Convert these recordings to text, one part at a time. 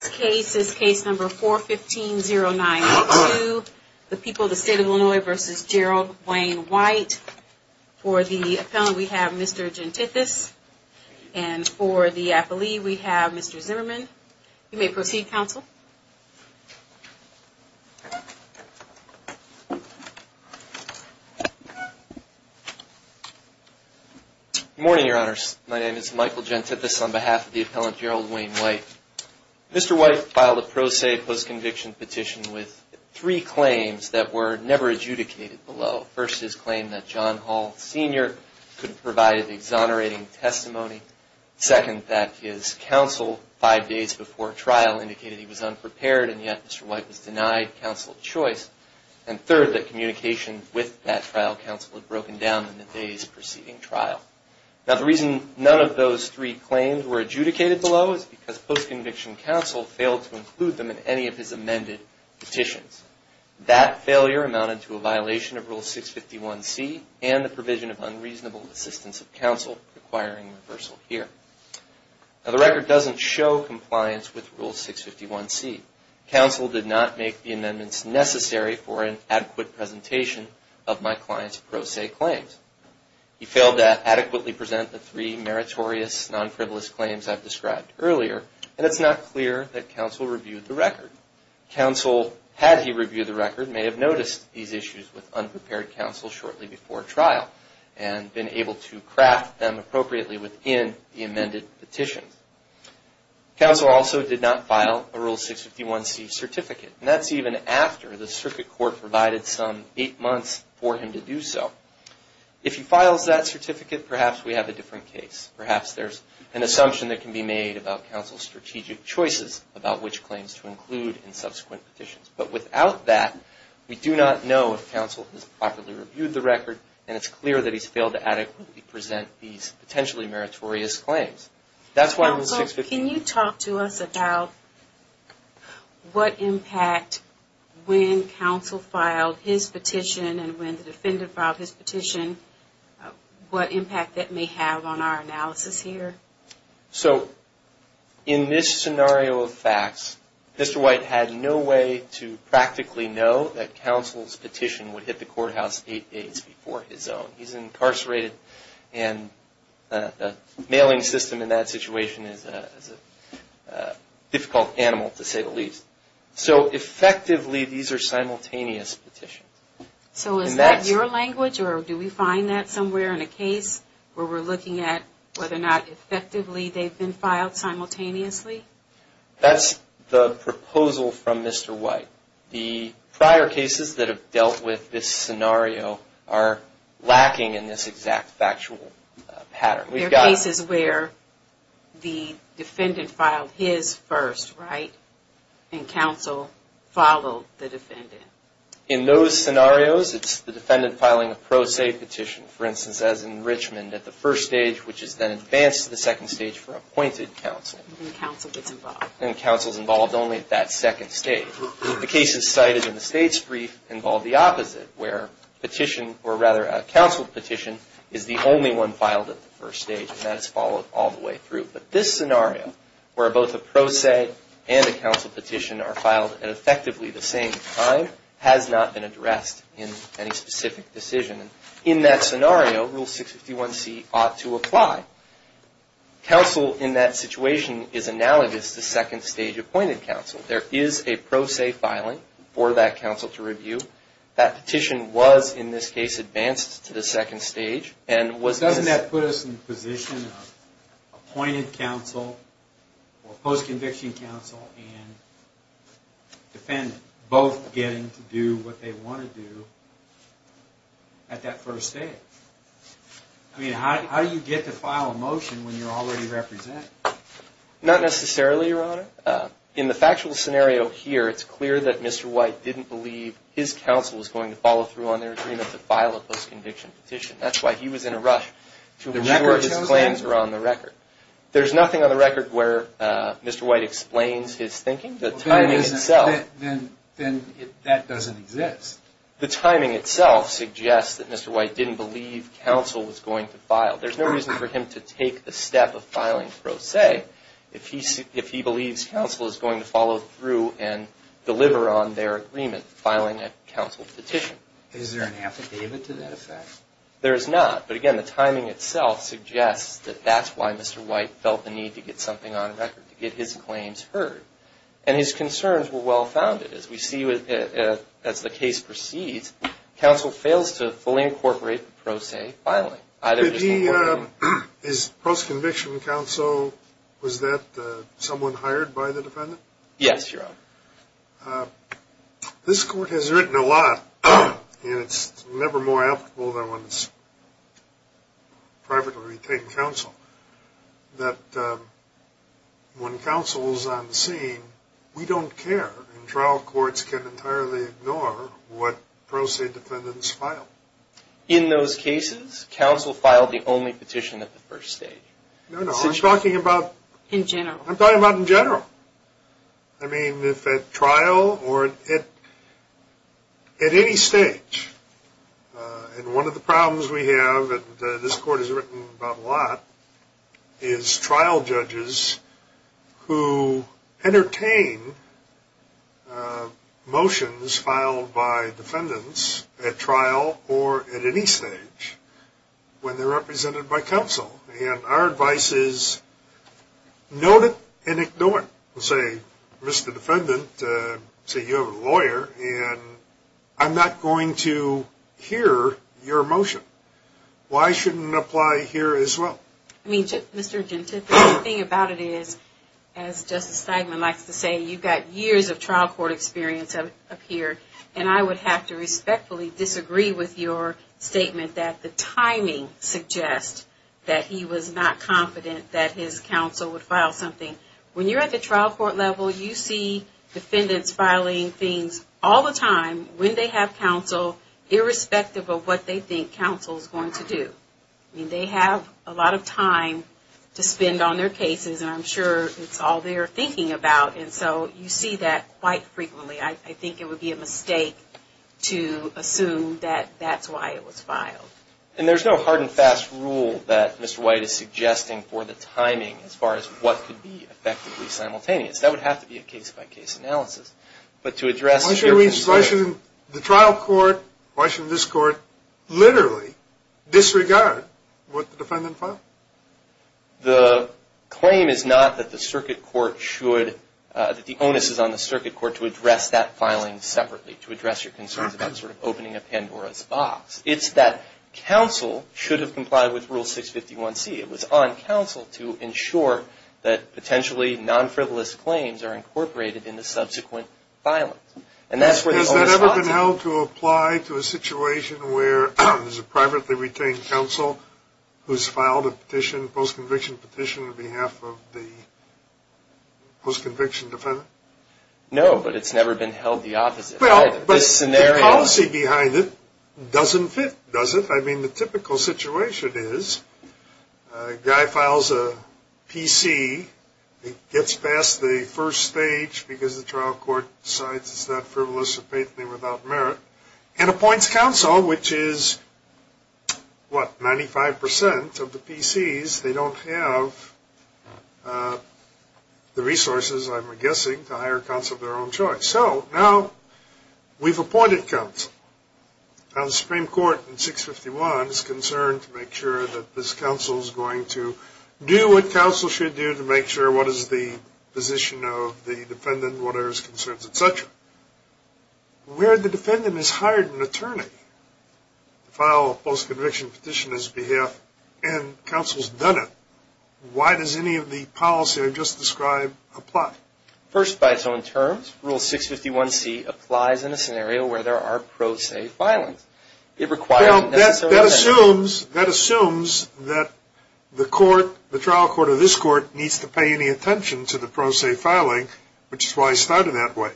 This case is case number 41509-2, the people of the state of Illinois v. Gerald Wayne White. For the appellant, we have Mr. Gentithis, and for the appellee, we have Mr. Zimmerman. You may proceed, counsel. Good morning, your honors. My name is Michael Gentithis on behalf of the appellant, Gerald Wayne White. Mr. White filed a pro se post-conviction petition with three claims that were never adjudicated below. First, his claim that John Hall Sr. couldn't provide an exonerating testimony. Second, that his counsel five days before trial indicated he was unprepared, and yet Mr. White was denied counsel choice. And third, that communication with that trial counsel had broken down in the days preceding trial. Now, the reason none of those three claims were adjudicated below is because post-conviction counsel failed to include them in any of his amended petitions. That failure amounted to a violation of Rule 651C and the provision of unreasonable assistance of counsel requiring reversal here. Now, the record doesn't show compliance with Rule 651C. Counsel did not make the amendments necessary for an adequate presentation of my client's pro se claims. He failed to adequately present the three meritorious, non-frivolous claims I've described earlier, and it's not clear that counsel reviewed the record. Counsel, had he reviewed the record, may have noticed these issues with unprepared counsel shortly before trial, and been able to craft them appropriately within the amended petition. Counsel also did not file a Rule 651C certificate, and that's even after the circuit court provided some eight months for him to do so. If he files that certificate, perhaps we have a different case. Perhaps there's an assumption that can be made about counsel's strategic choices about which claims to include in subsequent petitions. But without that, we do not know if counsel has properly reviewed the record, and it's clear that he's failed to adequately present these potentially meritorious claims. That's why Rule 651... Can you talk to us about what impact, when counsel filed his petition and when the defendant filed his petition, what impact that may have on our analysis here? So, in this scenario of facts, Mr. White had no way to practically know that counsel's petition would hit the courthouse eight days before his own. He's incarcerated, and the mailing system in that situation is a difficult animal, to say the least. So, effectively, these are simultaneous petitions. So, is that your language, or do we find that somewhere in a case where we're looking at whether or not effectively they've been filed simultaneously? That's the proposal from Mr. White. The prior cases that have dealt with this scenario are lacking in this exact factual pattern. There are cases where the defendant filed his first, right? And counsel followed the defendant. In those scenarios, it's the defendant filing a pro se petition. For instance, as in Richmond, at the first stage, which is then advanced to the second stage for appointed counsel. And counsel gets involved. And counsel's involved only at that second stage. The cases cited in the state's brief involve the opposite, where petition, or rather a counsel petition, is the only one filed at the first stage. And that is followed all the way through. But this scenario, where both a pro se and a counsel petition are filed at effectively the same time, has not been addressed in any specific decision. In that scenario, Rule 651C ought to apply. Counsel, in that situation, is analogous to second stage appointed counsel. There is a pro se filing for that counsel to review. That petition was, in this case, advanced to the second stage. Doesn't that put us in the position of appointed counsel, or post-conviction counsel, and defendant both getting to do what they want to do at that first stage? I mean, how do you get to file a motion when you're already represented? Not necessarily, Your Honor. In the factual scenario here, it's clear that Mr. White didn't believe his counsel was going to follow through on their agreement to file a post-conviction petition. That's why he was in a rush to ensure his claims were on the record. There's nothing on the record where Mr. White explains his thinking. The timing itself... Then that doesn't exist. The timing itself suggests that Mr. White didn't believe counsel was going to file. There's no reason for him to take the step of filing pro se if he believes counsel is going to follow through and deliver on their agreement, filing a counsel petition. Is there an affidavit to that effect? There is not. But again, the timing itself suggests that that's why Mr. White felt the need to get something on the record, to get his claims heard. And his concerns were well-founded. As we see as the case proceeds, counsel fails to fully incorporate the pro se filing. His post-conviction counsel, was that someone hired by the defendant? Yes, Your Honor. This Court has written a lot, and it's never more applicable than when it's privately retained counsel, that when counsel is on the scene, we don't care. And trial courts can entirely ignore what pro se defendants file. In those cases, counsel filed the only petition at the first stage. No, no. I'm talking about... In general. I'm talking about in general. I mean, if at trial or at any stage, and one of the problems we have, and this Court has written about a lot, is trial judges who entertain motions filed by defendants at trial or at any stage, when they're represented by counsel. And our advice is, note it and ignore it. Say, Mr. Defendant, say you have a lawyer, and I'm not going to hear your motion. Why shouldn't it apply here as well? I mean, Mr. Gentile, the thing about it is, as Justice Steinman likes to say, you've got years of trial court experience up here, and I would have to respectfully disagree with your statement that the timing suggests that he was not confident that his counsel would file something. When you're at the trial court level, you see defendants filing things all the time when they have counsel, irrespective of what they think counsel is going to do. I mean, they have a lot of time to spend on their cases, and I'm sure it's all they're thinking about. And so, you see that quite frequently. I think it would be a mistake to assume that that's why it was filed. And there's no hard and fast rule that Mr. White is suggesting for the timing as far as what could be effectively simultaneous. That would have to be a case-by-case analysis. Why shouldn't the trial court, why shouldn't this court literally disregard what the defendant filed? The claim is not that the circuit court should, that the onus is on the circuit court to address that filing separately, to address your concerns about sort of opening a Pandora's box. It's that counsel should have complied with Rule 651C. It was on counsel to ensure that potentially non-frivolous claims are incorporated in the subsequent filing. And that's where the onus lies. Has that ever been held to apply to a situation where there's a privately retained counsel who's filed a petition, a post-conviction petition, on behalf of the post-conviction defendant? No, but it's never been held the opposite. Well, but the policy behind it doesn't fit, does it? I mean, the typical situation is a guy files a PC, gets past the first stage because the trial court decides it's not frivolous or faithfully without merit, and appoints counsel, which is, what, 95% of the PCs, they don't have the resources, I'm guessing, to hire counsel of their own choice. So, now, we've appointed counsel. Now, the Supreme Court in 651 is concerned to make sure that this counsel is going to do what counsel should do to make sure what is the position of the defendant, what are his concerns, etc. Where the defendant has hired an attorney to file a post-conviction petition on his behalf, and counsel's done it, why does any of the policy I've just described apply? First, by its own terms, Rule 651C applies in a scenario where there are pro se filings. Well, that assumes that the trial court or this court needs to pay any attention to the pro se filing, which is why I started that way.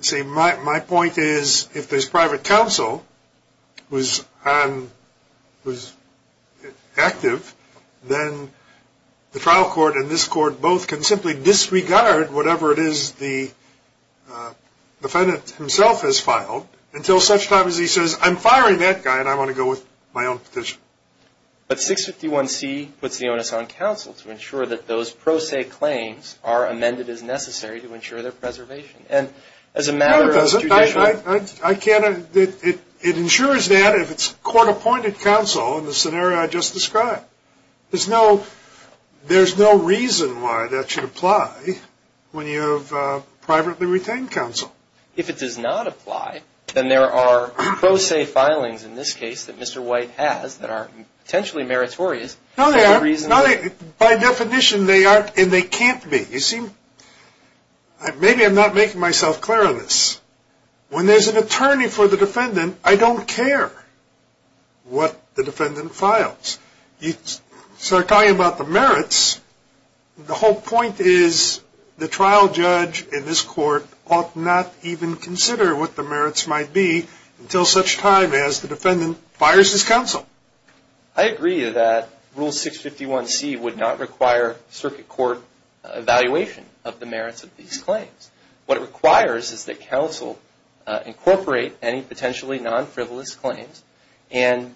See, my point is, if there's private counsel who's active, then the trial court and this court both can simply disregard whatever it is the defendant himself has filed until such time as he says, I'm firing that guy and I want to go with my own petition. But 651C puts the onus on counsel to ensure that those pro se claims are amended as necessary to ensure their preservation. No, it doesn't. It ensures that if it's court-appointed counsel in the scenario I just described. There's no reason why that should apply when you have privately retained counsel. If it does not apply, then there are pro se filings in this case that Mr. White has that are potentially meritorious. No, they aren't. By definition, they aren't and they can't be. You see, maybe I'm not making myself clear on this. When there's an attorney for the defendant, I don't care what the defendant files. You start talking about the merits, the whole point is the trial judge and this court ought not even consider what the merits might be until such time as the defendant fires his counsel. I agree that Rule 651C would not require circuit court evaluation of the merits of these claims. What it requires is that counsel incorporate any potentially non-frivolous claims and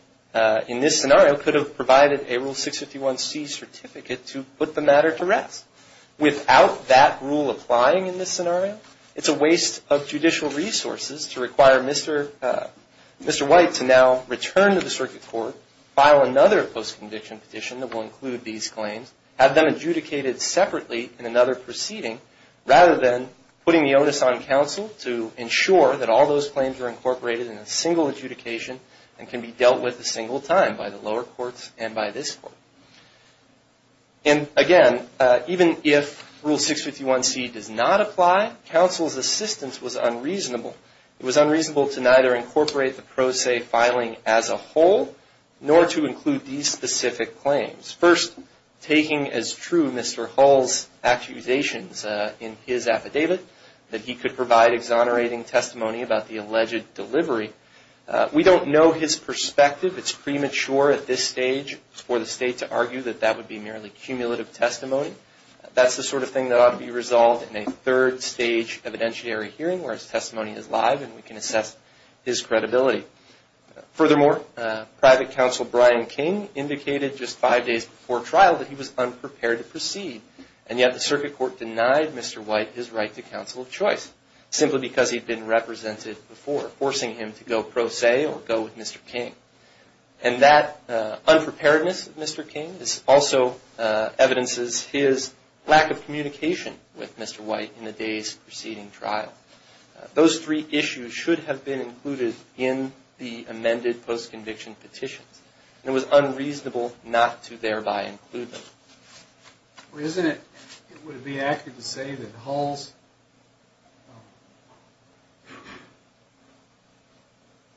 in this scenario could have provided a Rule 651C certificate to put the matter to rest. Without that rule applying in this scenario, it's a waste of judicial resources to require Mr. White to now return to the circuit court, file another post-conviction petition that will include these claims, have them adjudicated separately in another proceeding rather than putting the onus on counsel to ensure that all those claims are incorporated in a single adjudication and can be dealt with a single time by the lower courts and by this court. And again, even if Rule 651C does not apply, counsel's assistance was unreasonable. It was unreasonable to neither incorporate the pro se filing as a whole nor to include these specific claims. First, taking as true Mr. Hull's accusations in his affidavit that he could provide exonerating testimony about the alleged delivery. We don't know his perspective. It's premature at this stage for the state to argue that that would be merely cumulative testimony. That's the sort of thing that ought to be resolved in a third stage evidentiary hearing where his testimony is live and we can assess his credibility. Furthermore, private counsel Brian King indicated just five days before trial that he was unprepared to proceed and yet the circuit court denied Mr. White his right to counsel of choice simply because he'd been represented before, forcing him to go pro se or go with Mr. King. And that unpreparedness of Mr. King also evidences his lack of communication with Mr. White in the days preceding trial. Those three issues should have been included in the amended post-conviction petitions. It was unreasonable not to thereby include them. Well, isn't it, would it be accurate to say that Hull's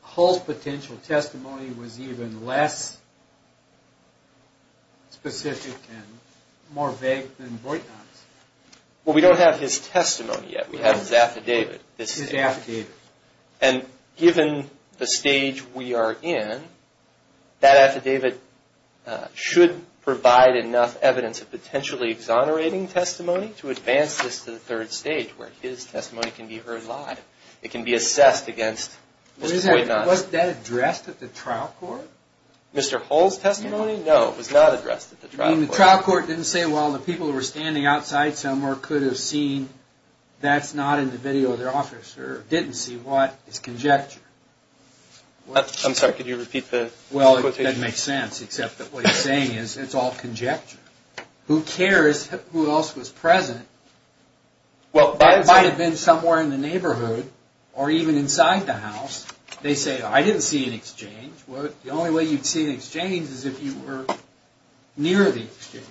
Hull's potential testimony was even less specific and more vague than Voight-Not's? Well, we don't have his testimony yet. We have his affidavit. His affidavit. And given the stage we are in, that affidavit should provide enough evidence of potentially exonerating testimony to advance this to the third stage where his testimony can be heard live. It can be assessed against Mr. Voight-Not's. Was that addressed at the trial court? Mr. Hull's testimony? No, it was not addressed at the trial court. I mean, the trial court didn't say, well, the people who were standing outside somewhere could have seen that's not in the video of their officer or didn't see what is conjecture. I'm sorry, could you repeat the quotation? Well, that makes sense, except that what he's saying is it's all conjecture. Who cares who else was present? Well, by and large... That might have been somewhere in the neighborhood or even inside the house. They say, I didn't see an exchange. The only way you'd see an exchange is if you were near the exchange.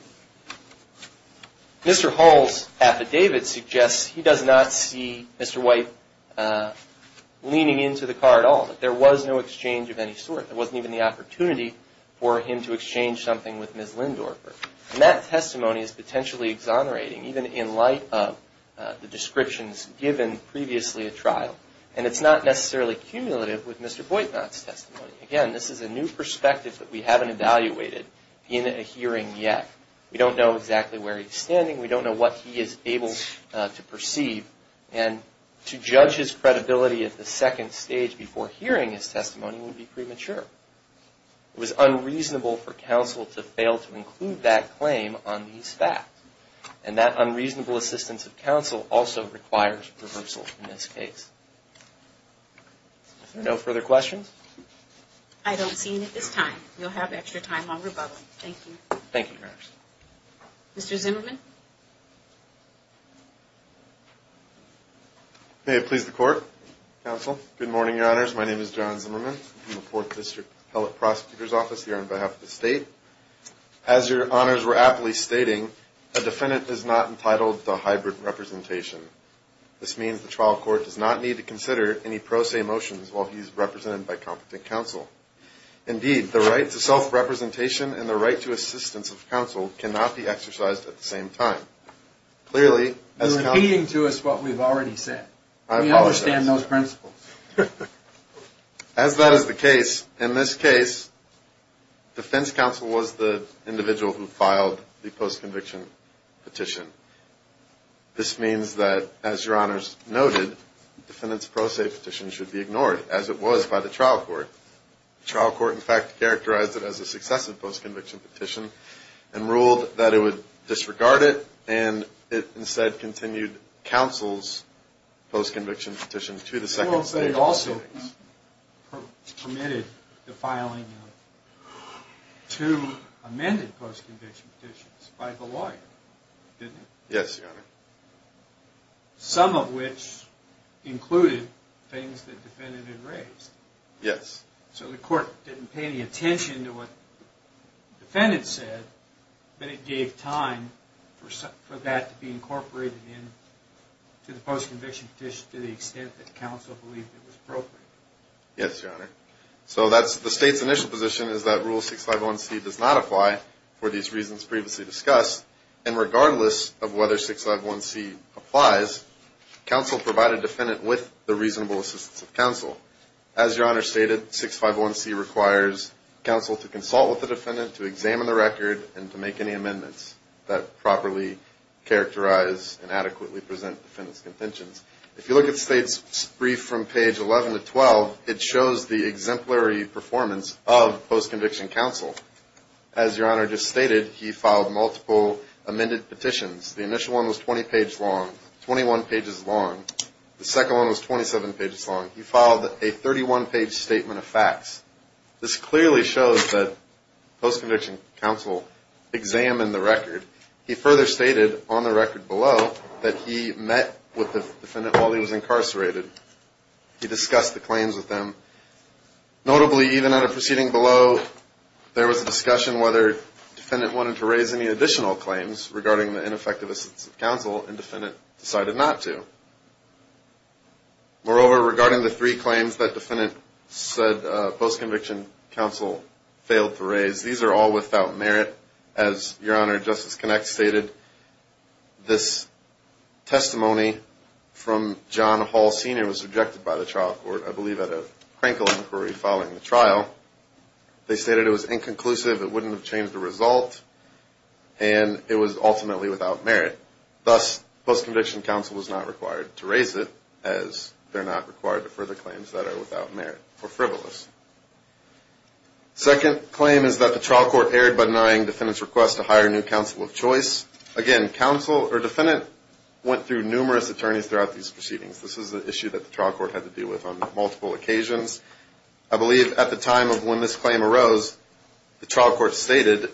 Mr. Hull's affidavit suggests he does not see Mr. Voight leaning into the car at all. There was no exchange of any sort. There wasn't even the opportunity for him to exchange something with Ms. Lindorfer. And that testimony is potentially exonerating even in light of the descriptions given previously at trial. And it's not necessarily cumulative with Mr. Voight not's testimony. Again, this is a new perspective that we haven't evaluated in a hearing yet. We don't know exactly where he's standing. We don't know what he is able to perceive. And to judge his credibility at the second stage before hearing his testimony would be premature. It was unreasonable for counsel to fail to include that claim on these facts. And that unreasonable assistance of counsel also requires reversal in this case. Are there no further questions? I don't see any at this time. You'll have extra time while we're bubbling. Thank you. Thank you, Your Honors. Mr. Zimmerman. May it please the Court. Counsel. Good morning, Your Honors. My name is John Zimmerman. I'm from the Fourth District Hellick Prosecutor's Office here on behalf of the state. a defendant is not entitled to a hybrid representation. This means the trial court does not need a hybrid representation. It does not need to consider any pro se motions while he's represented by competent counsel. Indeed, the right to self-representation and the right to assistance of counsel cannot be exercised at the same time. You're repeating to us what we've already said. We understand those principles. As that is the case, in this case, defense counsel was the individual who filed the post-conviction petition. This means that, as Your Honors noted, the defendant's pro se petition should be ignored as it was by the trial court. The trial court, in fact, characterized it as a successive post-conviction petition and ruled that it would disregard it and it instead continued counsel's post-conviction petition to the second stage of the proceedings. It also permitted the filing of two amended post-conviction petitions by the lawyer. Didn't it? Yes, Your Honor. Some of which included things that the defendant had raised. Yes. So the court didn't pay any attention to what the defendant said but it gave time for that to be incorporated in to the post-conviction petition to the extent that counsel believed it was appropriate. Yes, Your Honor. So that's the state's initial position is that Rule 651C does not apply for these reasons previously discussed and regardless of whether 651C applies counsel provided defendant with the reasonable assistance of counsel. As Your Honor stated, 651C requires counsel to consult with the defendant to examine the record and to make any amendments that properly characterize and adequately present defendant's contentions. If you look at the state's brief from page 11 to 12 it shows the exemplary performance of post-conviction counsel. As Your Honor just stated he filed multiple amended petitions. The initial one was 20 pages long 21 pages long the second one was 27 pages long he filed a 31 page statement of facts. This clearly shows that post-conviction counsel examined the record he further stated on the record below that he met with the defendant while he was incarcerated he discussed the claims with them notably even at a proceeding below there was a discussion regarding whether defendant wanted to raise any additional claims regarding the ineffective assistance of counsel and defendant decided not to. Moreover, regarding the three claims that defendant said post-conviction counsel failed to raise these are all without merit as Your Honor Justice Connect stated this testimony from John Hall Sr. was rejected by the trial court I believe at a crankle inquiry following the trial they stated it was inconclusive it wouldn't have changed the result and it was ultimately without merit thus post-conviction counsel was not required to raise it as they're not required to further claims that are without merit or frivolous Second claim is that the trial court erred by denying defendant's request to hire a new counsel of choice again, counsel or defendant went through numerous attorneys throughout these proceedings this is an issue that the trial court had to deal with on multiple occasions I believe at the time of when this claim arose the trial court stated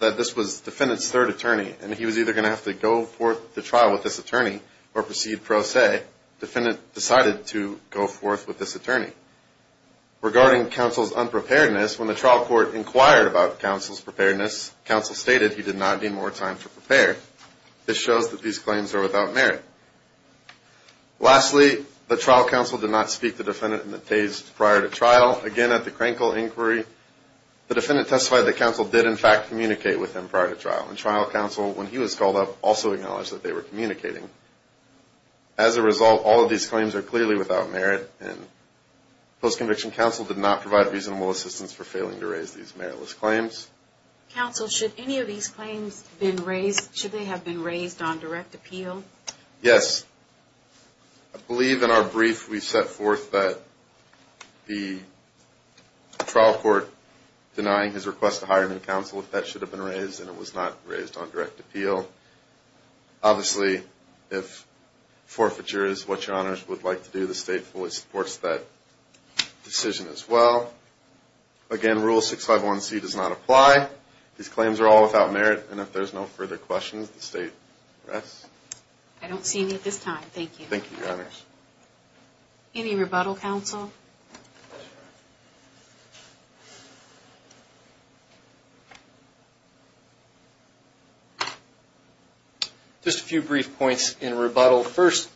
that this was defendant's third attorney and he was either going to have to go forth to trial with this attorney or proceed pro se defendant decided to go forth with this attorney regarding counsel's unpreparedness when the trial court inquired about counsel's preparedness counsel stated he did not need more time to prepare this shows that these claims are without merit lastly the trial counsel did not speak to defendant in the days prior to trial again at the crankle inquiry the defendant testified that counsel did in fact communicate with him prior to trial and trial counsel when he was called up also acknowledged that they were communicating as a result all of these claims are clearly without merit and post conviction counsel did not provide reasonable assistance for failing to raise these meritless claims counsel should any of these claims been raised should they have been raised on direct appeal yes I believe in our brief we set forth that the trial court denying his request to hire counsel if that should have been raised and it was not raised on direct appeal obviously if forfeiture is what your honors would like to do the state fully supports that decision as well again rule 651c does not apply these claims are all without merit and if there is no further questions the state rests I don't see any at this time thank you thank you your honors any rebuttal counsel just a few brief points in rebuttal first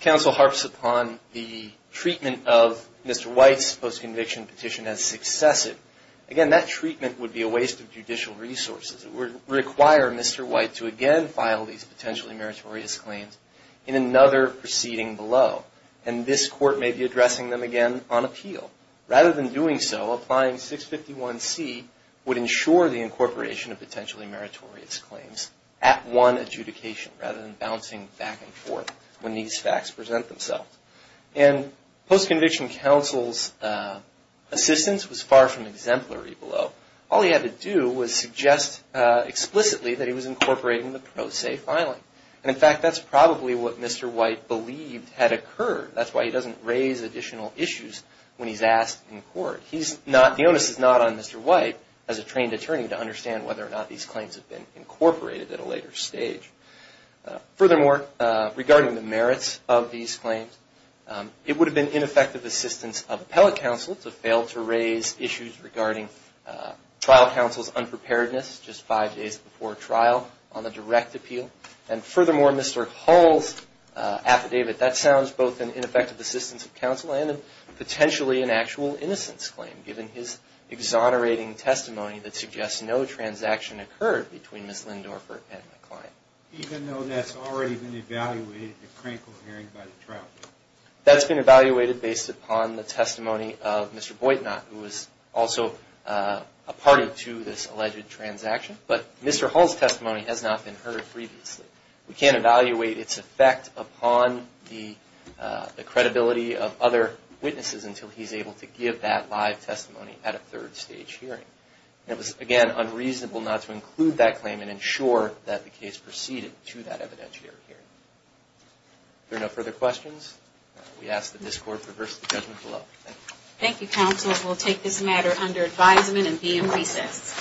counsel harps upon the treatment of Mr. White's post-conviction petition as successive again that treatment would be a waste of judicial resources it would require Mr. White to again file these potentially meritorious claims in another proceeding below and this court may be addressing them again on appeal rather than doing so applying 651c would ensure the incorporation of potentially meritorious claims at one adjudication rather than bouncing back and forth when these facts present themselves and post-conviction counsel's assistance was far from exemplary below all he had to do was suggest explicitly that he was incorporating the pro se filing and in fact that's probably what Mr. White believed had occurred that's why he doesn't raise additional issues when he's asked in court he's not the onus is not on Mr. White as a trained attorney regarding the merits of these claims it would have been ineffective assistance of appellate counsel to fail to raise issues regarding trial counsel's unpreparedness just five days before trial on the direct appeal and furthermore Mr. Hull's affidavit that sounds both an ineffective assistance of counsel and a potentially an actual innocence claim given his exonerating testimony that suggests no transaction occurred between Ms. Lindorfer and the client even though that's already been evaluated in a critical hearing by the trial court that's been evaluated based upon the testimony of Mr. Boytnot who was also a party to this alleged transaction but Mr. Hull's testimony has not been heard previously we can't evaluate its effect upon the credibility of other witnesses until he's able to give that live testimony at a third stage hearing it was again unreasonable not to include that claim and ensure that the case proceeded to that evidentiary hearing if there are no further questions we ask that this court reverse the judgment below thank you counsel we'll take this matter under advisement and be in recess